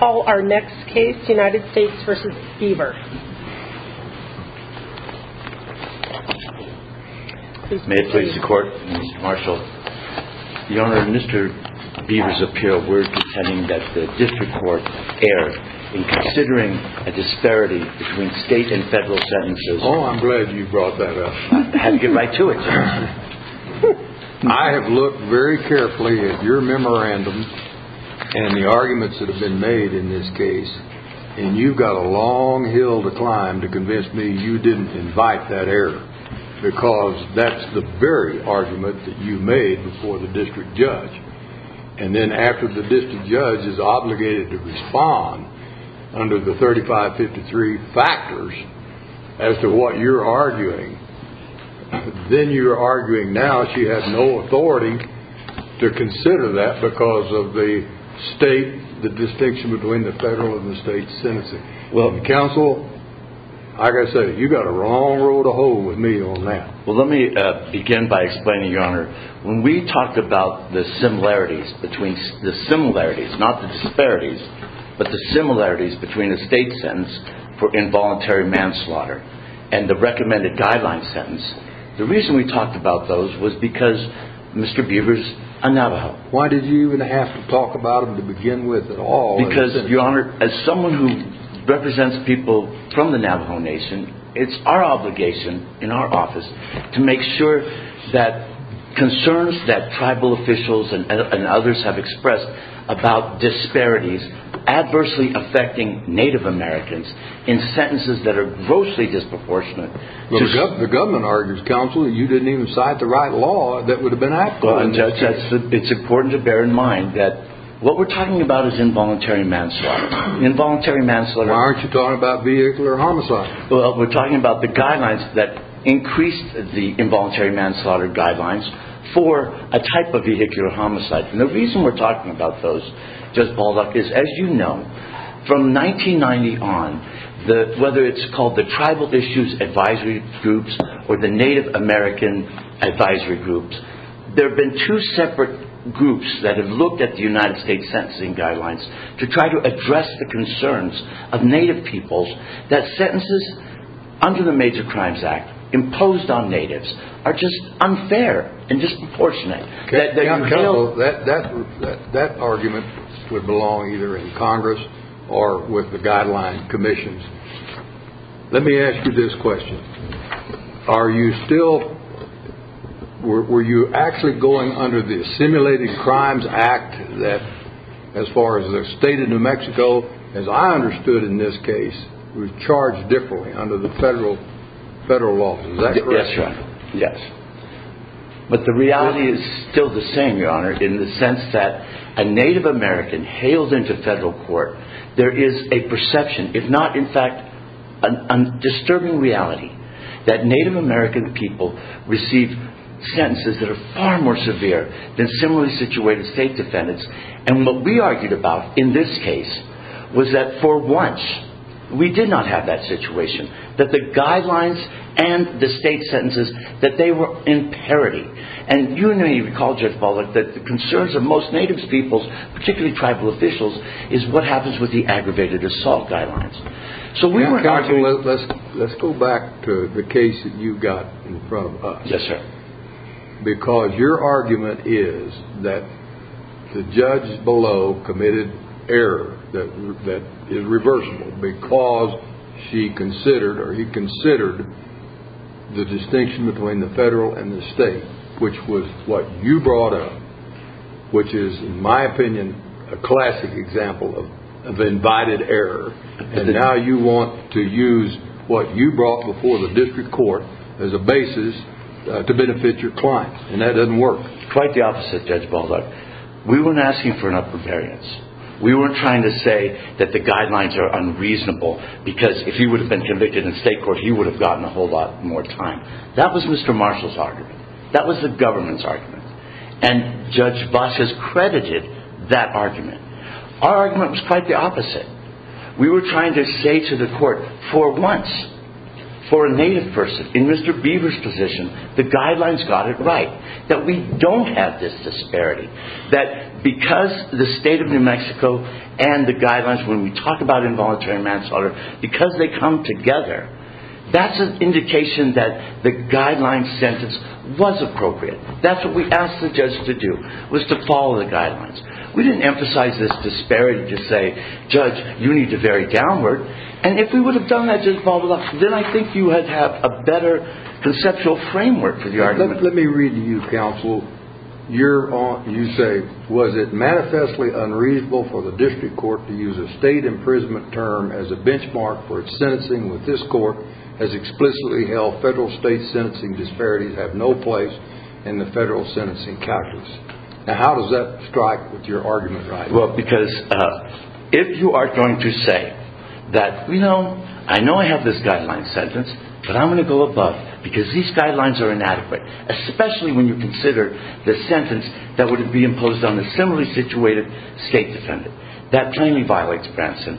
May it please the court, Mr. Marshall. The honor of Mr. Beaver's appeal, we're pretending that the district court erred in considering a disparity between state and federal sentences. Oh, I'm glad you brought that up. I have looked very carefully at your memorandum and the arguments that have been made in this case, and you've got a long hill to climb to convince me you didn't invite that error because that's the very argument that you made before the district judge. And then after the district judge is obligated to respond under the 3553 factors as to what you're arguing, then you're arguing now she has no authority to consider that because of the state, the distinction between the federal and the state sentencing. Counsel, like I said, you've got a long road to hoe with me on that. Well, let me begin by explaining, Your Honor, when we talked about the similarities between the similarities, not the disparities, but the similarities between a state sentence for involuntary manslaughter and the recommended guideline sentence. The reason we talked about those was because Mr. Beaver's a Navajo. Why did you even have to talk about him to begin with at all? Because, Your Honor, as someone who represents people from the Navajo Nation, it's our obligation in our office to make sure that concerns that tribal officials and others have expressed about disparities adversely affecting Native Americans in sentences that are grossly disproportionate. The government argues, Counsel, that you didn't even cite the right law that would have been applicable. It's important to bear in mind that what we're talking about is involuntary manslaughter. Why aren't you talking about vehicular homicide? Well, we're talking about the guidelines that increased the involuntary manslaughter guidelines for a type of vehicular homicide. The reason we're talking about those, Judge Baldock, is as you know, from 1990 on, whether it's called the Tribal Issues Advisory Groups or the Native American Advisory Groups, there have been two separate groups that have looked at the United States Sentencing Guidelines to try to address the concerns of Native peoples that sentences under the Major Crimes Act imposed on Natives are just unfair and disproportionate. Counsel, that argument would belong either in Congress or with the Guideline Commissions. Let me ask you this question. Are you still, were you actually going under the Assimilated Crimes Act that, as far as the state of New Mexico, as I understood in this case, was charged differently under the federal law? Yes. But the reality is still the same, Your Honor, in the sense that a Native American hails into federal court, there is a perception, if not in fact a disturbing reality, that Native American people receive sentences that are far more severe than similarly situated state defendants. And what we argued about in this case was that for once, we did not have that situation. That the guidelines and the state sentences, that they were in parity. And you recall, Judge Baldock, that the concerns of most Native peoples, particularly tribal officials, is what happens with the aggravated assault guidelines. Counsel, let's go back to the case that you got in front of us. Yes, sir. Because your argument is that the judge below committed error that is reversible because she considered or he considered the distinction between the federal and the state, which was what you brought up, which is, in my opinion, a classic example of invited error. And now you want to use what you brought before the district court as a basis to benefit your clients. And that doesn't work. Quite the opposite, Judge Baldock. We weren't asking for an upper variance. We weren't trying to say that the guidelines are unreasonable because if he would have been convicted in state court, he would have gotten a whole lot more time. That was Mr. Marshall's argument. That was the government's argument. Our argument was quite the opposite. We were trying to say to the court for once, for a Native person, in Mr. Beaver's position, the guidelines got it right. That we don't have this disparity. That because the state of New Mexico and the guidelines, when we talk about involuntary manslaughter, because they come together, that's an indication that the guideline sentence was appropriate. That's what we asked the judge to do, was to follow the guidelines. We didn't emphasize this disparity to say, Judge, you need to vary downward. And if we would have done that, Judge Baldock, then I think you would have a better conceptual framework for the argument. Let me read to you, counsel. You say, was it manifestly unreasonable for the district court to use a state imprisonment term as a benchmark for its sentencing with this court as explicitly held federal state sentencing disparities have no place in the federal sentencing calculus. How does that strike with your argument? Well, because if you are going to say that, you know, I know I have this guideline sentence, but I'm going to go above because these guidelines are inadequate. Especially when you consider the sentence that would be imposed on a similarly situated state defendant. That plainly violates Branson.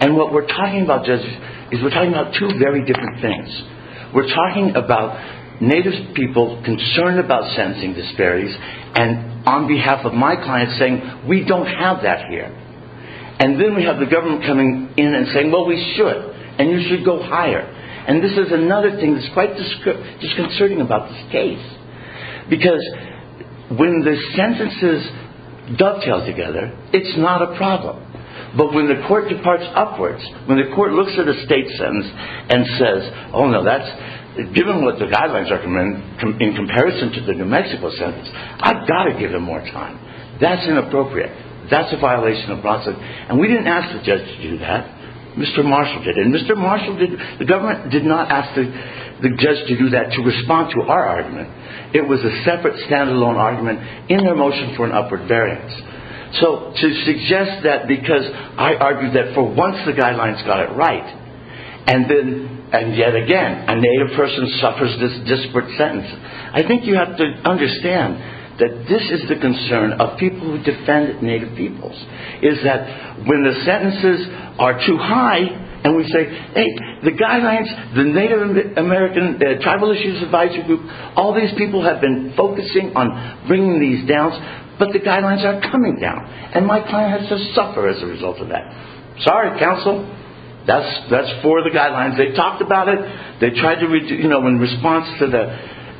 And what we're talking about, Judge, is we're talking about two very different things. We're talking about native people concerned about sentencing disparities and on behalf of my clients saying, we don't have that here. And then we have the government coming in and saying, well, we should. And you should go higher. And this is another thing that's quite disconcerting about this case. Because when the sentences dovetail together, it's not a problem. But when the court departs upwards, when the court looks at a state sentence and says, oh, no, given what the guidelines are in comparison to the New Mexico sentence, I've got to give them more time. That's inappropriate. That's a violation of Branson. And we didn't ask the judge to do that. Mr. Marshall did. And Mr. Marshall did. The government did not ask the judge to do that to respond to our argument. It was a separate, standalone argument in their motion for an upward variance. So to suggest that because I argued that for once the guidelines got it right. And yet again, a native person suffers this disparate sentence. I think you have to understand that this is the concern of people who defend native peoples. Is that when the sentences are too high and we say, hey, the guidelines, the Native American Tribal Issues Advisory Group, all these people have been focusing on bringing these down. But the guidelines are coming down. And my client has to suffer as a result of that. Sorry, counsel. That's for the guidelines. They talked about it. They tried to, you know, in response to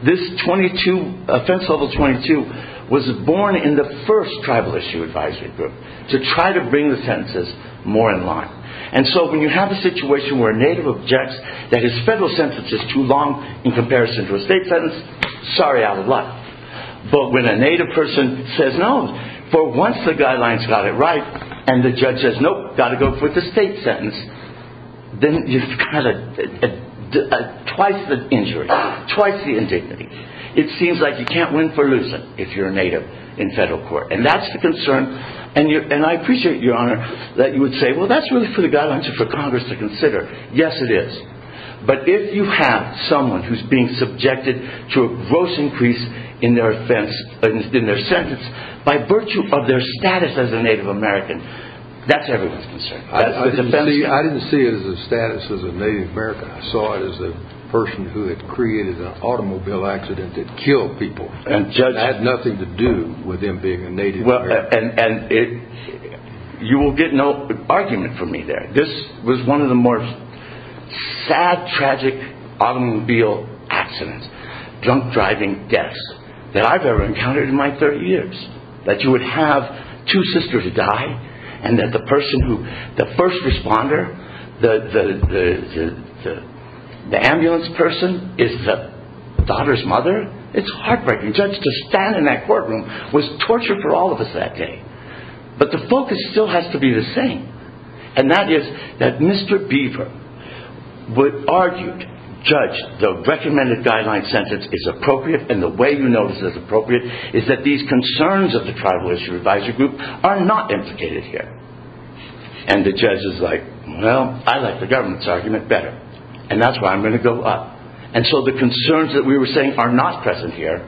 this 22, offense level 22, was born in the first Tribal Issue Advisory Group to try to bring the sentences more in line. And so when you have a situation where a native objects that his federal sentence is too long in comparison to a state sentence, sorry, out of luck. But when a native person says, no, for once the guidelines got it right, and the judge says, nope, got to go for the state sentence, then you've got twice the injury, twice the indignity. It seems like you can't win for loosen if you're a native in federal court. And that's the concern. And I appreciate, Your Honor, that you would say, well, that's really for the guidelines and for Congress to consider. Yes, it is. But if you have someone who's being subjected to a gross increase in their offense, in their sentence, by virtue of their status as a Native American, that's everyone's concern. I didn't see it as a status as a Native American. I saw it as a person who had created an automobile accident that killed people and had nothing to do with them being a Native American. And you will get no argument from me there. This was one of the more sad, tragic automobile accidents, drunk driving deaths that I've ever encountered in my 30 years. That you would have two sisters die and that the person who, the first responder, the ambulance person is the daughter's mother. It's heartbreaking. Just to stand in that courtroom was torture for all of us that day. But the focus still has to be the same. And that is that Mr. Beaver would argue, judge, the recommended guideline sentence is appropriate. And the way you know this is appropriate is that these concerns of the Tribal Issue Advisory Group are not implicated here. And the judge is like, well, I like the government's argument better. And that's why I'm going to go up. And so the concerns that we were saying are not present here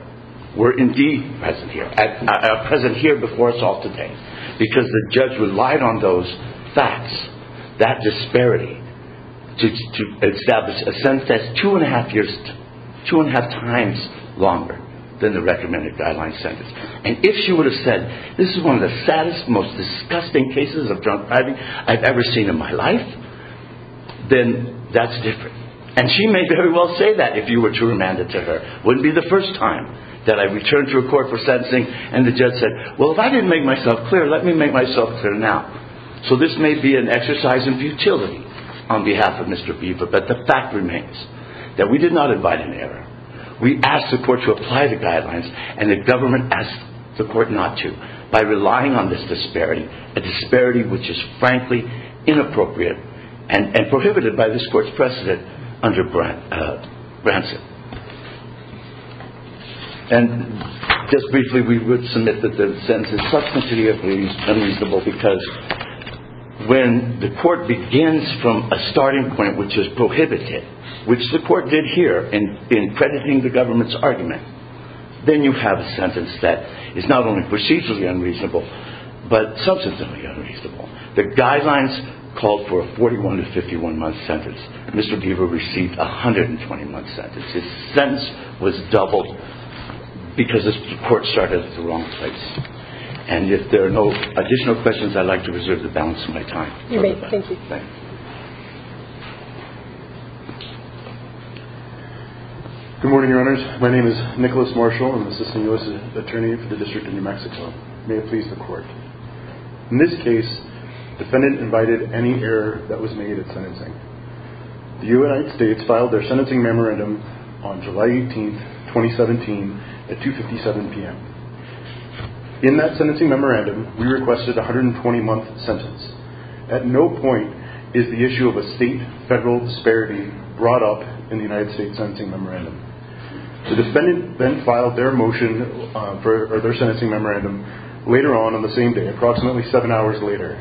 were indeed present here before us all today. Because the judge relied on those facts, that disparity, to establish a sentence that's two and a half years, two and a half times longer than the recommended guideline sentence. And if she would have said, this is one of the saddest, most disgusting cases of drunk driving I've ever seen in my life, then that's different. And she may very well say that if you were to remand it to her. Wouldn't be the first time that I returned to a court for sentencing and the judge said, well, if I didn't make myself clear, let me make myself clear now. So this may be an exercise in futility on behalf of Mr. Beaver. But the fact remains that we did not invite an error. We asked the court to apply the guidelines and the government asked the court not to. By relying on this disparity, a disparity which is frankly inappropriate and prohibited by this court's precedent under Branson. And just briefly, we would submit that the sentence is substantially unreasonable because when the court begins from a starting point, which is prohibited, which the court did here in crediting the government's argument, then you have a sentence that is not only procedurally unreasonable, but substantially unreasonable. The guidelines called for a 41 to 51 month sentence. Mr. Beaver received a 121 sentence. His sentence was doubled because this court started at the wrong place. And if there are no additional questions, I'd like to reserve the balance of my time. Thank you. Good morning, Your Honors. My name is Nicholas Marshall. I'm the Assistant U.S. Attorney for the District of New Mexico. May it please the court. In this case, the defendant invited any error that was made at sentencing. The United States filed their sentencing memorandum on July 18, 2017 at 257 p.m. In that sentencing memorandum, we requested a 120 month sentence. At no point is the issue of a state-federal disparity brought up in the United States sentencing memorandum. The defendant then filed their motion for their sentencing memorandum later on, on the same day, approximately seven hours later.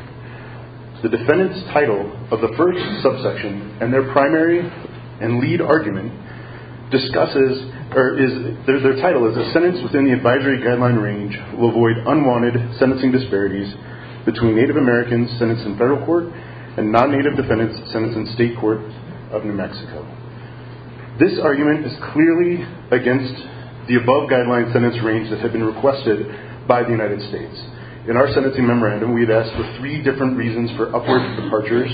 The defendant's title of the first subsection and their primary and lead argument discusses, or their title is, a sentence within the advisory guideline range will avoid unwanted sentencing disparities between Native Americans sentenced in federal court and non-Native defendants sentenced in state court of New Mexico. This argument is clearly against the above guideline sentence range that had been requested by the United States. In our sentencing memorandum, we had asked for three different reasons for upward departures,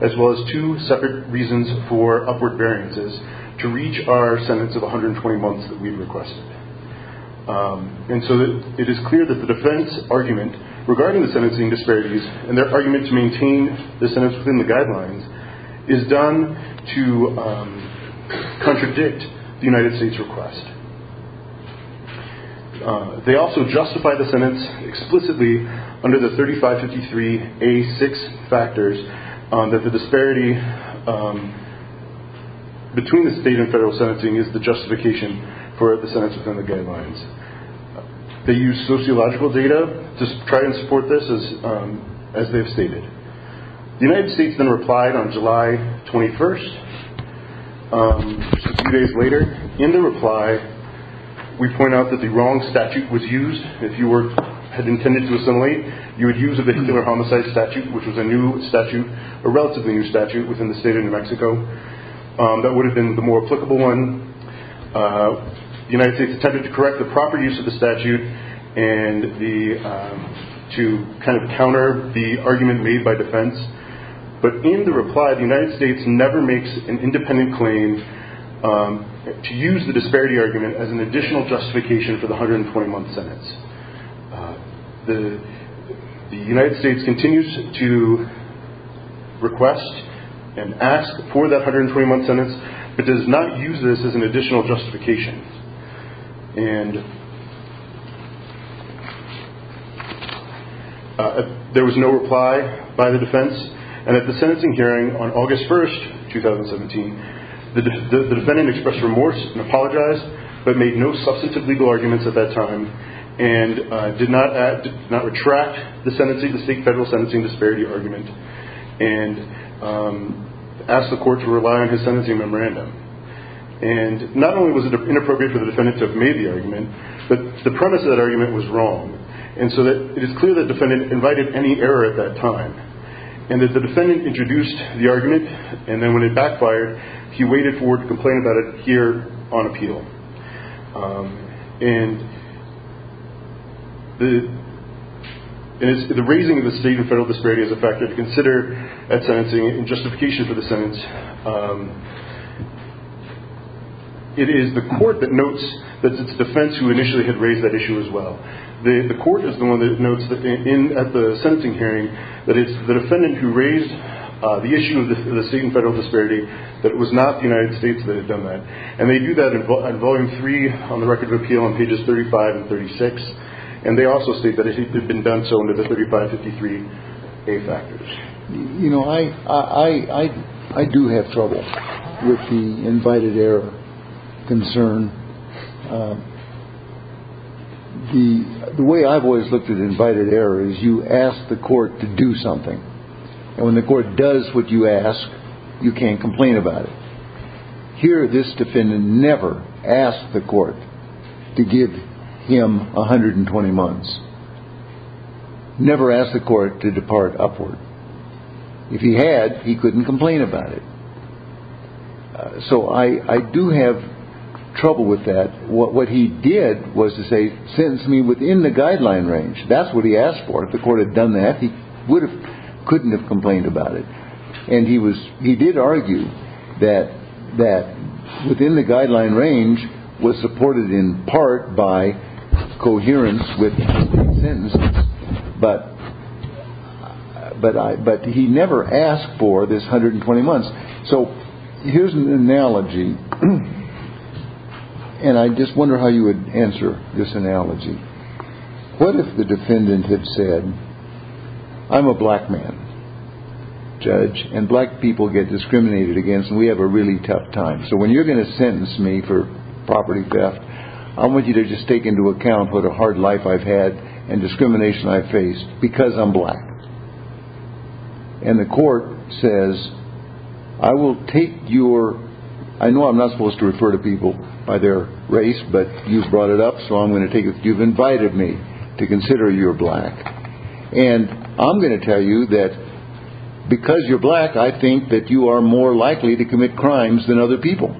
as well as two separate reasons for upward variances to reach our sentence of 120 months that we requested. And so it is clear that the defense argument regarding the sentencing disparities and their argument to maintain the sentence within the guidelines is done to contradict the United States request. They also justify the sentence explicitly under the 3553A6 factors that the disparity between the state and federal sentencing is the justification for the sentence within the guidelines. They use sociological data to try and support this, as they have stated. The United States then replied on July 21st, a few days later. In their reply, we point out that the wrong statute was used. If you had intended to assimilate, you would use a vehicular homicide statute, which was a new statute, a relatively new statute within the state of New Mexico. That would have been the more applicable one. The United States attempted to correct the proper use of the statute and to kind of counter the argument made by defense. But in the reply, the United States never makes an independent claim to use the disparity argument as an additional justification for the 120-month sentence. The United States continues to request and ask for that 120-month sentence, but does not use this as an additional justification. There was no reply by the defense, and at the sentencing hearing on August 1st, 2017, the defendant expressed remorse and apologized, but made no substantive legal arguments at that time and did not retract the state-federal sentencing disparity argument and asked the court to rely on his sentencing memorandum. Not only was it inappropriate for the defendant to have made the argument, but the premise of that argument was wrong. It is clear that the defendant invited any error at that time. The defendant introduced the argument, and then when it backfired, he waited for word to complain about it here on appeal. And the raising of the state and federal disparity is a factor to consider at sentencing in justification for the sentence. It is the court that notes that it's the defense who initially had raised that issue as well. The court is the one that notes at the sentencing hearing that it's the defendant who raised the issue of the state and federal disparity, that it was not the United States that had done that. And they do that in volume three on the record of appeal on pages 35 and 36, and they also state that it had been done so under the 3553A factors. You know, I do have trouble with the invited error concern. The way I've always looked at invited error is you ask the court to do something, and when the court does what you ask, you can't complain about it. Here, this defendant never asked the court to give him 120 months, never asked the court to depart upward. If he had, he couldn't complain about it. So I do have trouble with that. What he did was to say, sentence me within the guideline range. That's what he asked for. If the court had done that, he couldn't have complained about it. And he did argue that within the guideline range was supported in part by coherence with sentences, but he never asked for this 120 months. So here's an analogy, and I just wonder how you would answer this analogy. What if the defendant had said, I'm a black man, judge, and black people get discriminated against, and we have a really tough time. So when you're going to sentence me for property theft, I want you to just take into account what a hard life I've had and discrimination I've faced because I'm black. And the court says, I will take your, I know I'm not supposed to refer to people by their race, but you've brought it up, so I'm going to take it that you've invited me to consider you're black. And I'm going to tell you that because you're black, I think that you are more likely to commit crimes than other people.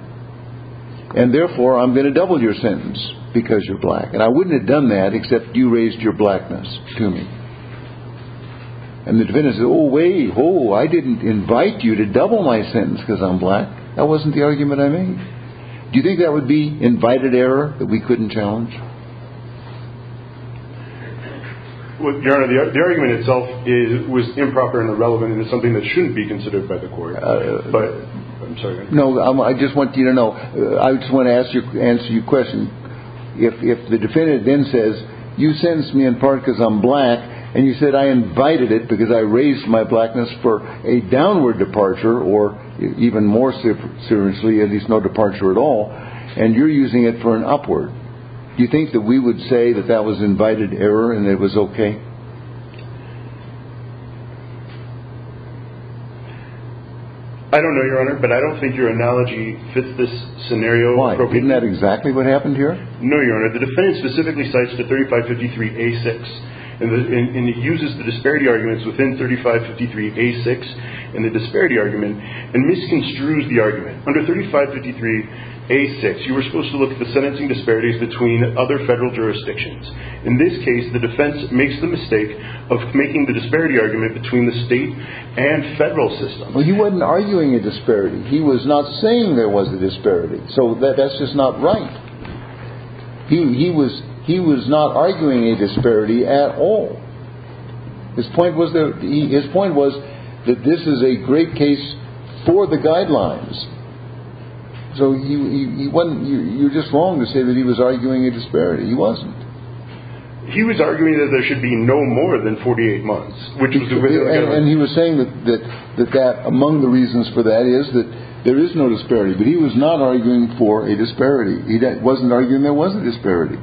And therefore, I'm going to double your sentence because you're black. And I wouldn't have done that except you raised your blackness to me. And the defendant says, oh wait, oh, I didn't invite you to double my sentence because I'm black. That wasn't the argument I made. Do you think that would be invited error that we couldn't challenge? Well, Your Honor, the argument itself was improper and irrelevant and it's something that shouldn't be considered by the court. But, I'm sorry. No, I just want you to know, I just want to answer your question. If the defendant then says, you sentenced me in part because I'm black, and you said I invited it because I raised my blackness for a downward departure, or even more seriously, at least no departure at all, and you're using it for an upward, do you think that we would say that that was invited error and it was okay? I don't know, Your Honor, but I don't think your analogy fits this scenario appropriately. Why? Isn't that exactly what happened here? No, Your Honor. The defendant specifically cites the 3553A6 and uses the disparity arguments within 3553A6. And the disparity argument, and misconstrues the argument. Under 3553A6, you were supposed to look at the sentencing disparities between other federal jurisdictions. In this case, the defense makes the mistake of making the disparity argument between the state and federal system. Well, he wasn't arguing a disparity. He was not saying there was a disparity. So, that's just not right. He was not arguing a disparity at all. His point was that this is a great case for the guidelines. So, you're just wrong to say that he was arguing a disparity. He wasn't. He was arguing that there should be no more than 48 months. And he was saying that among the reasons for that is that there is no disparity, but he was not arguing for a disparity. He wasn't arguing there wasn't a disparity.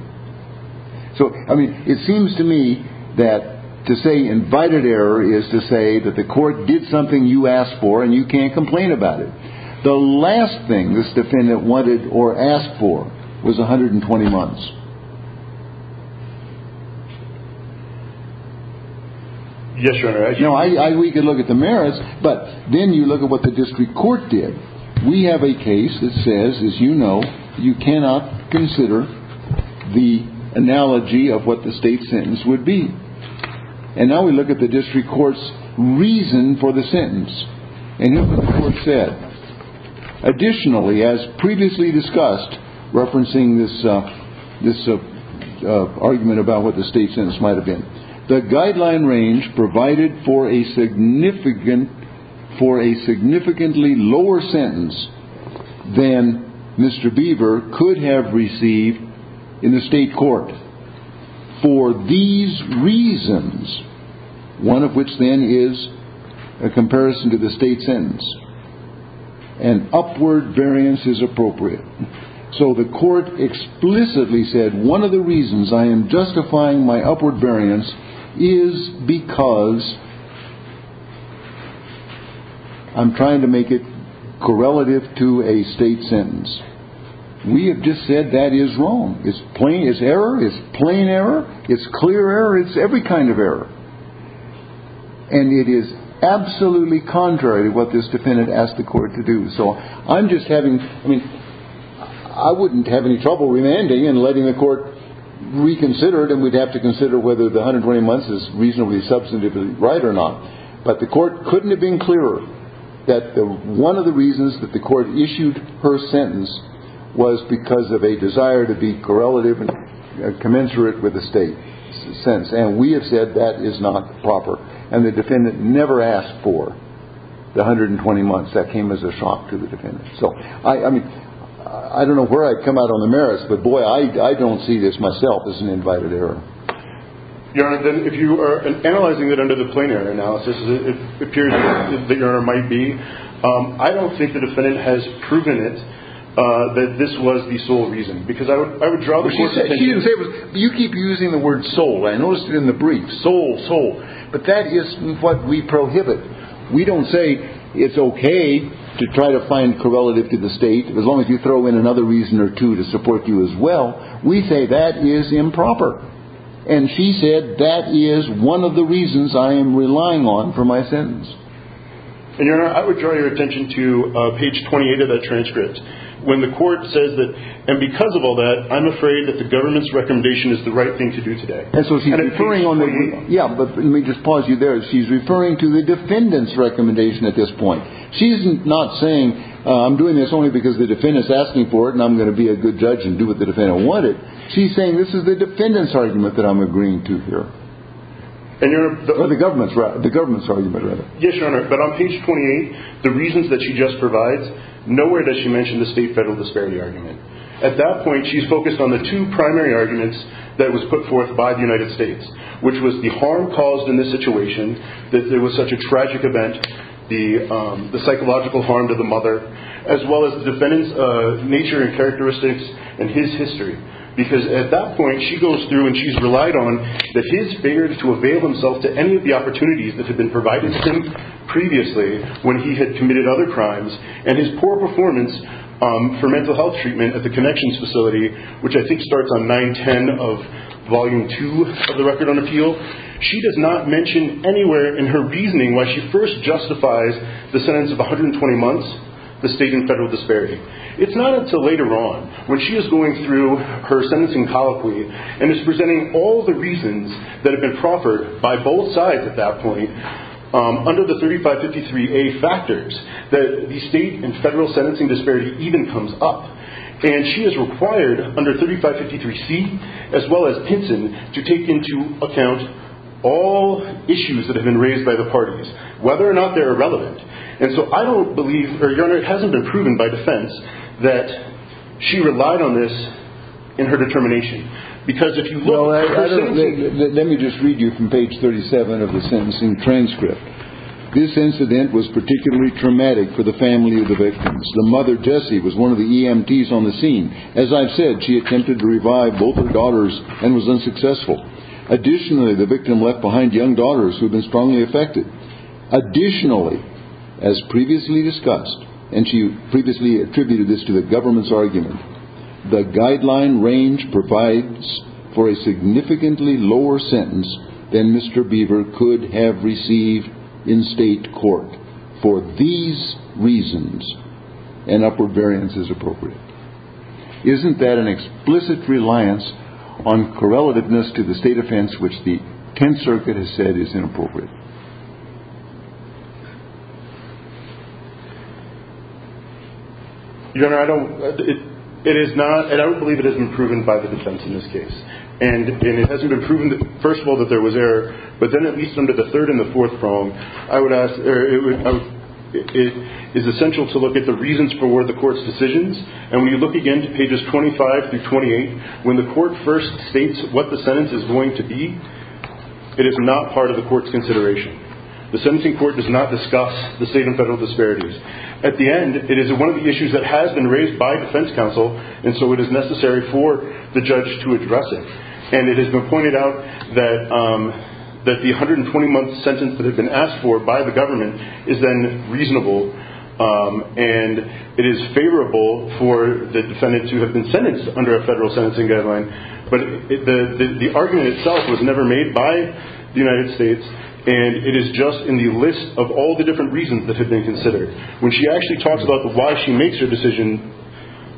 So, I mean, it seems to me that to say invited error is to say that the court did something you asked for and you can't complain about it. The last thing this defendant wanted or asked for was 120 months. Yes, Your Honor. We can look at the merits, but then you look at what the district court did. We have a case that says, as you know, you cannot consider the analogy of what the state sentence would be. And now we look at the district court's reason for the sentence. And look what the court said. Additionally, as previously discussed, referencing this argument about what the state sentence might have been, the guideline range provided for a significantly lower sentence than Mr. Beaver could have received in the state court. For these reasons, one of which then is a comparison to the state sentence, an upward variance is appropriate. So the court explicitly said, one of the reasons I am justifying my upward variance is because I'm trying to make it correlative to a state sentence. We have just said that is wrong. It's plain, it's error, it's plain error, it's clear error, it's every kind of error. And it is absolutely contrary to what this defendant asked the court to do. So I'm just having, I mean, I wouldn't have any trouble remanding and letting the court reconsider it, and we'd have to consider whether the 120 months is reasonably substantively right or not. But the court couldn't have been clearer that one of the reasons that the court issued her sentence was because of a desire to be correlative and commensurate with the state sentence. And we have said that is not proper. And the defendant never asked for the 120 months. That came as a shock to the defendant. So, I mean, I don't know where I've come out on the merits, but, boy, I don't see this myself as an invited error. Your Honor, if you are analyzing it under the plain error analysis, it appears that the error might be. I don't think the defendant has proven it, that this was the sole reason, because I would draw the line. You keep using the word sole. I noticed it in the brief. Sole, sole. But that is what we prohibit. We don't say it's okay to try to find correlative to the state as long as you throw in another reason or two to support you as well. We say that is improper. And she said that is one of the reasons I am relying on for my sentence. And, Your Honor, I would draw your attention to page 28 of that transcript. When the court says that, and because of all that, I'm afraid that the government's recommendation is the right thing to do today. And so she's referring on the. Yeah, but let me just pause you there. She's referring to the defendant's recommendation at this point. She's not saying I'm doing this only because the defendant's asking for it and I'm going to be a good judge and do what the defendant wanted. She's saying this is the defendant's argument that I'm agreeing to here. And, Your Honor. Or the government's argument, rather. Yes, Your Honor. But on page 28, the reasons that she just provides, nowhere does she mention the state-federal disparity argument. At that point, she's focused on the two primary arguments that was put forth by the United States, which was the harm caused in this situation, that there was such a tragic event, the psychological harm to the mother, as well as the defendant's nature and characteristics and his history. Because at that point, she goes through and she's relied on that his failure to avail himself to any of the opportunities that had been provided to him previously, when he had committed other crimes, and his poor performance for mental health treatment at the Connections Facility, which I think starts on 910 of Volume 2 of the Record on Appeal. She does not mention anywhere in her reasoning why she first justifies the sentence of 120 months, the state and federal disparity. It's not until later on, when she is going through her sentencing colloquy and is presenting all the reasons that have been proffered by both sides at that point, under the 3553A factors, that the state and federal sentencing disparity even comes up. And she is required under 3553C, as well as Pinson, to take into account all issues that have been raised by the parties, whether or not they're irrelevant. And so I don't believe, or Your Honor, it hasn't been proven by defense, that she relied on this in her determination. Let me just read you from page 37 of the sentencing transcript. This incident was particularly traumatic for the family of the victims. The mother, Jessie, was one of the EMTs on the scene. As I've said, she attempted to revive both her daughters and was unsuccessful. Additionally, the victim left behind young daughters who had been strongly affected. Additionally, as previously discussed, and she previously attributed this to the government's argument, the guideline range provides for a significantly lower sentence than Mr. Beaver could have received in state court. For these reasons, an upper variance is appropriate. Isn't that an explicit reliance on correlativeness to the state offense, which the Tenth Circuit has said is inappropriate? Your Honor, I don't – it is not – and I don't believe it has been proven by the defense in this case. And it hasn't been proven, first of all, that there was error. But then at least under the third and the fourth prong, I would ask – it is essential to look at the reasons for the court's decisions. And when you look again to pages 25 through 28, when the court first states what the sentence is going to be, it is not part of the court's consideration. The sentencing court does not discuss the state and federal disparities. At the end, it is one of the issues that has been raised by defense counsel, and so it is necessary for the judge to address it. And it has been pointed out that the 120-month sentence that had been asked for by the government is then reasonable, and it is favorable for the defendant to have been sentenced under a federal sentencing guideline. But the argument itself was never made by the United States, and it is just in the list of all the different reasons that have been considered. When she actually talks about why she makes her decision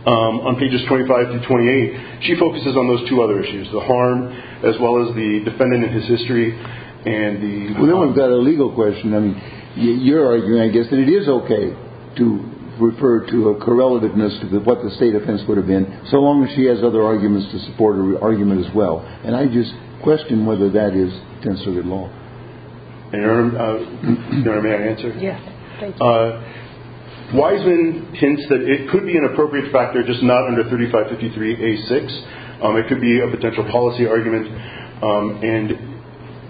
on pages 25 through 28, she focuses on those two other issues, the harm as well as the defendant and his history and the – Well, then we've got a legal question. I mean, you're arguing, I guess, that it is okay to refer to a correlativeness to what the state offense would have been, so long as she has other arguments to support her argument as well. And I just question whether that is considered law. Your Honor, may I answer? Yes. Wiseman hints that it could be an appropriate factor, just not under 3553A6. It could be a potential policy argument, and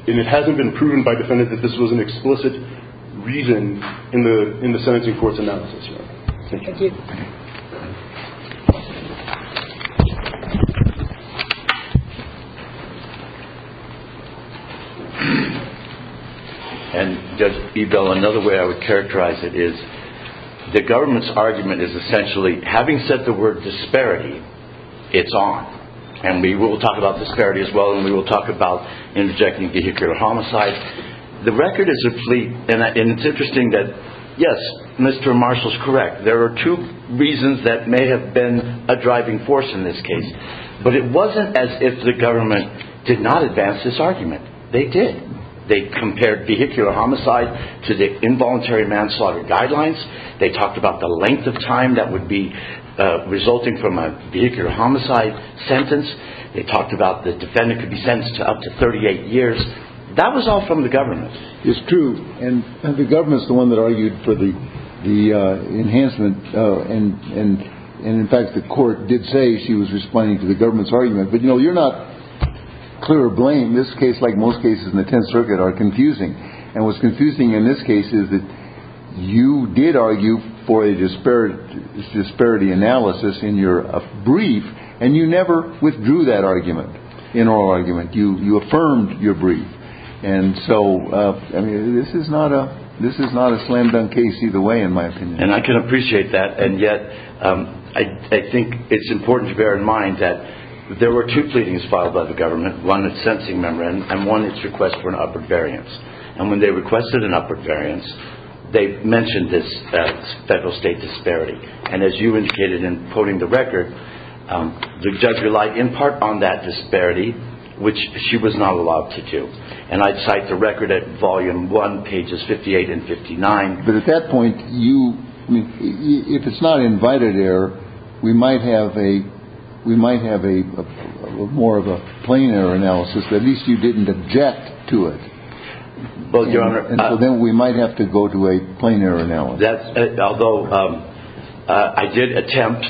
it hasn't been proven by the defendant that this was an explicit reason in the sentencing court's analysis. Thank you. Thank you. And Judge Beebell, another way I would characterize it is the government's argument is essentially, having said the word disparity, it's on. And we will talk about disparity as well, and we will talk about interjecting vehicular homicide. The record is a fleet, and it's interesting that, yes, Mr. Marshall's correct. There are two reasons that may have been a driving force in this case. But it wasn't as if the government did not advance this argument. They did. They compared vehicular homicide to the involuntary manslaughter guidelines. They talked about the length of time that would be resulting from a vehicular homicide sentence. They talked about the defendant could be sentenced to up to 38 years. That was all from the government. It's true. And the government's the one that argued for the enhancement. And in fact, the court did say she was responding to the government's argument. But, you know, you're not clear blame. This case, like most cases in the Tenth Circuit, are confusing. And what's confusing in this case is that you did argue for a disparate disparity analysis in your brief, and you never withdrew that argument in oral argument. You affirmed your brief. And so, I mean, this is not a this is not a slam dunk case either way, in my opinion. And I can appreciate that. And yet I think it's important to bear in mind that there were two pleadings filed by the government. One, it's sensing memory and one, it's request for an upward variance. And when they requested an upward variance, they mentioned this federal state disparity. And as you indicated in putting the record, the judge relied in part on that disparity, which she was not allowed to do. And I cite the record at volume one, pages 58 and 59. But at that point, you mean if it's not invited error, we might have a we might have a more of a plain error analysis. At least you didn't object to it. But your honor, then we might have to go to a plain error analysis. Although I did attempt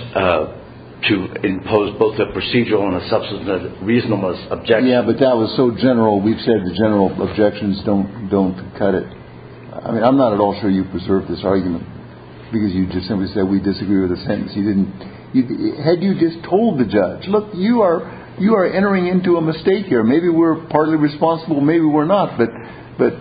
to impose both a procedural and a substantive reasonable objection. Yeah, but that was so general. We've said the general objections don't don't cut it. I mean, I'm not at all sure you preserve this argument because you just simply said we disagree with the sentence. You didn't. Had you just told the judge, look, you are you are entering into a mistake here. Maybe we're partly responsible. Maybe we're not. But but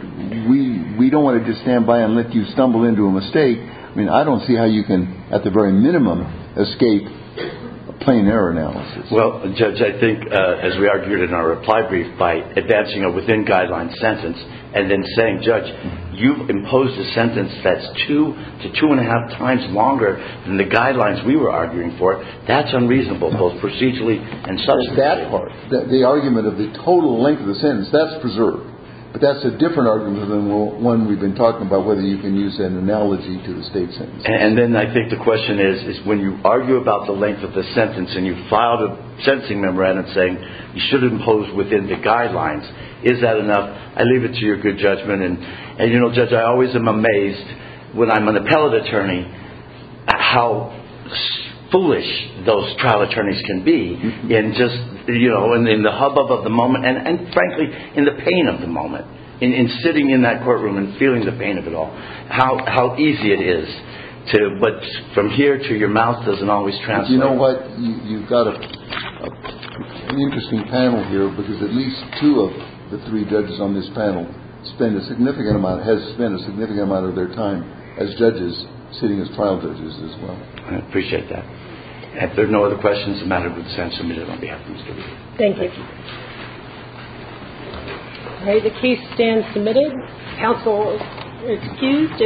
we we don't want to just stand by and let you stumble into a mistake. I mean, I don't see how you can at the very minimum escape a plain error analysis. Well, judge, I think as we argued in our reply brief by advancing a within guidelines sentence and then saying, judge, you've imposed a sentence that's two to two and a half times longer than the guidelines we were arguing for. That's unreasonable, both procedurally and such. That's the argument of the total length of the sentence that's preserved. But that's a different argument than one we've been talking about, whether you can use an analogy to the state. And then I think the question is, is when you argue about the length of the sentence and you filed a sentencing memorandum saying you should impose within the guidelines, is that enough? I leave it to your good judgment. And, you know, judge, I always am amazed when I'm an appellate attorney, how foolish those trial attorneys can be. And just, you know, in the hubbub of the moment and frankly, in the pain of the moment, in sitting in that courtroom and feeling the pain of it all, how easy it is to. But from here to your mouth doesn't always translate. You know what? You've got an interesting panel here because at least two of the three judges on this panel spend a significant amount, has spent a significant amount of their time as judges sitting as trial judges as well. I appreciate that. If there are no other questions, the matter would stand submitted on behalf. Thank you. The case stands submitted. Counsel excused.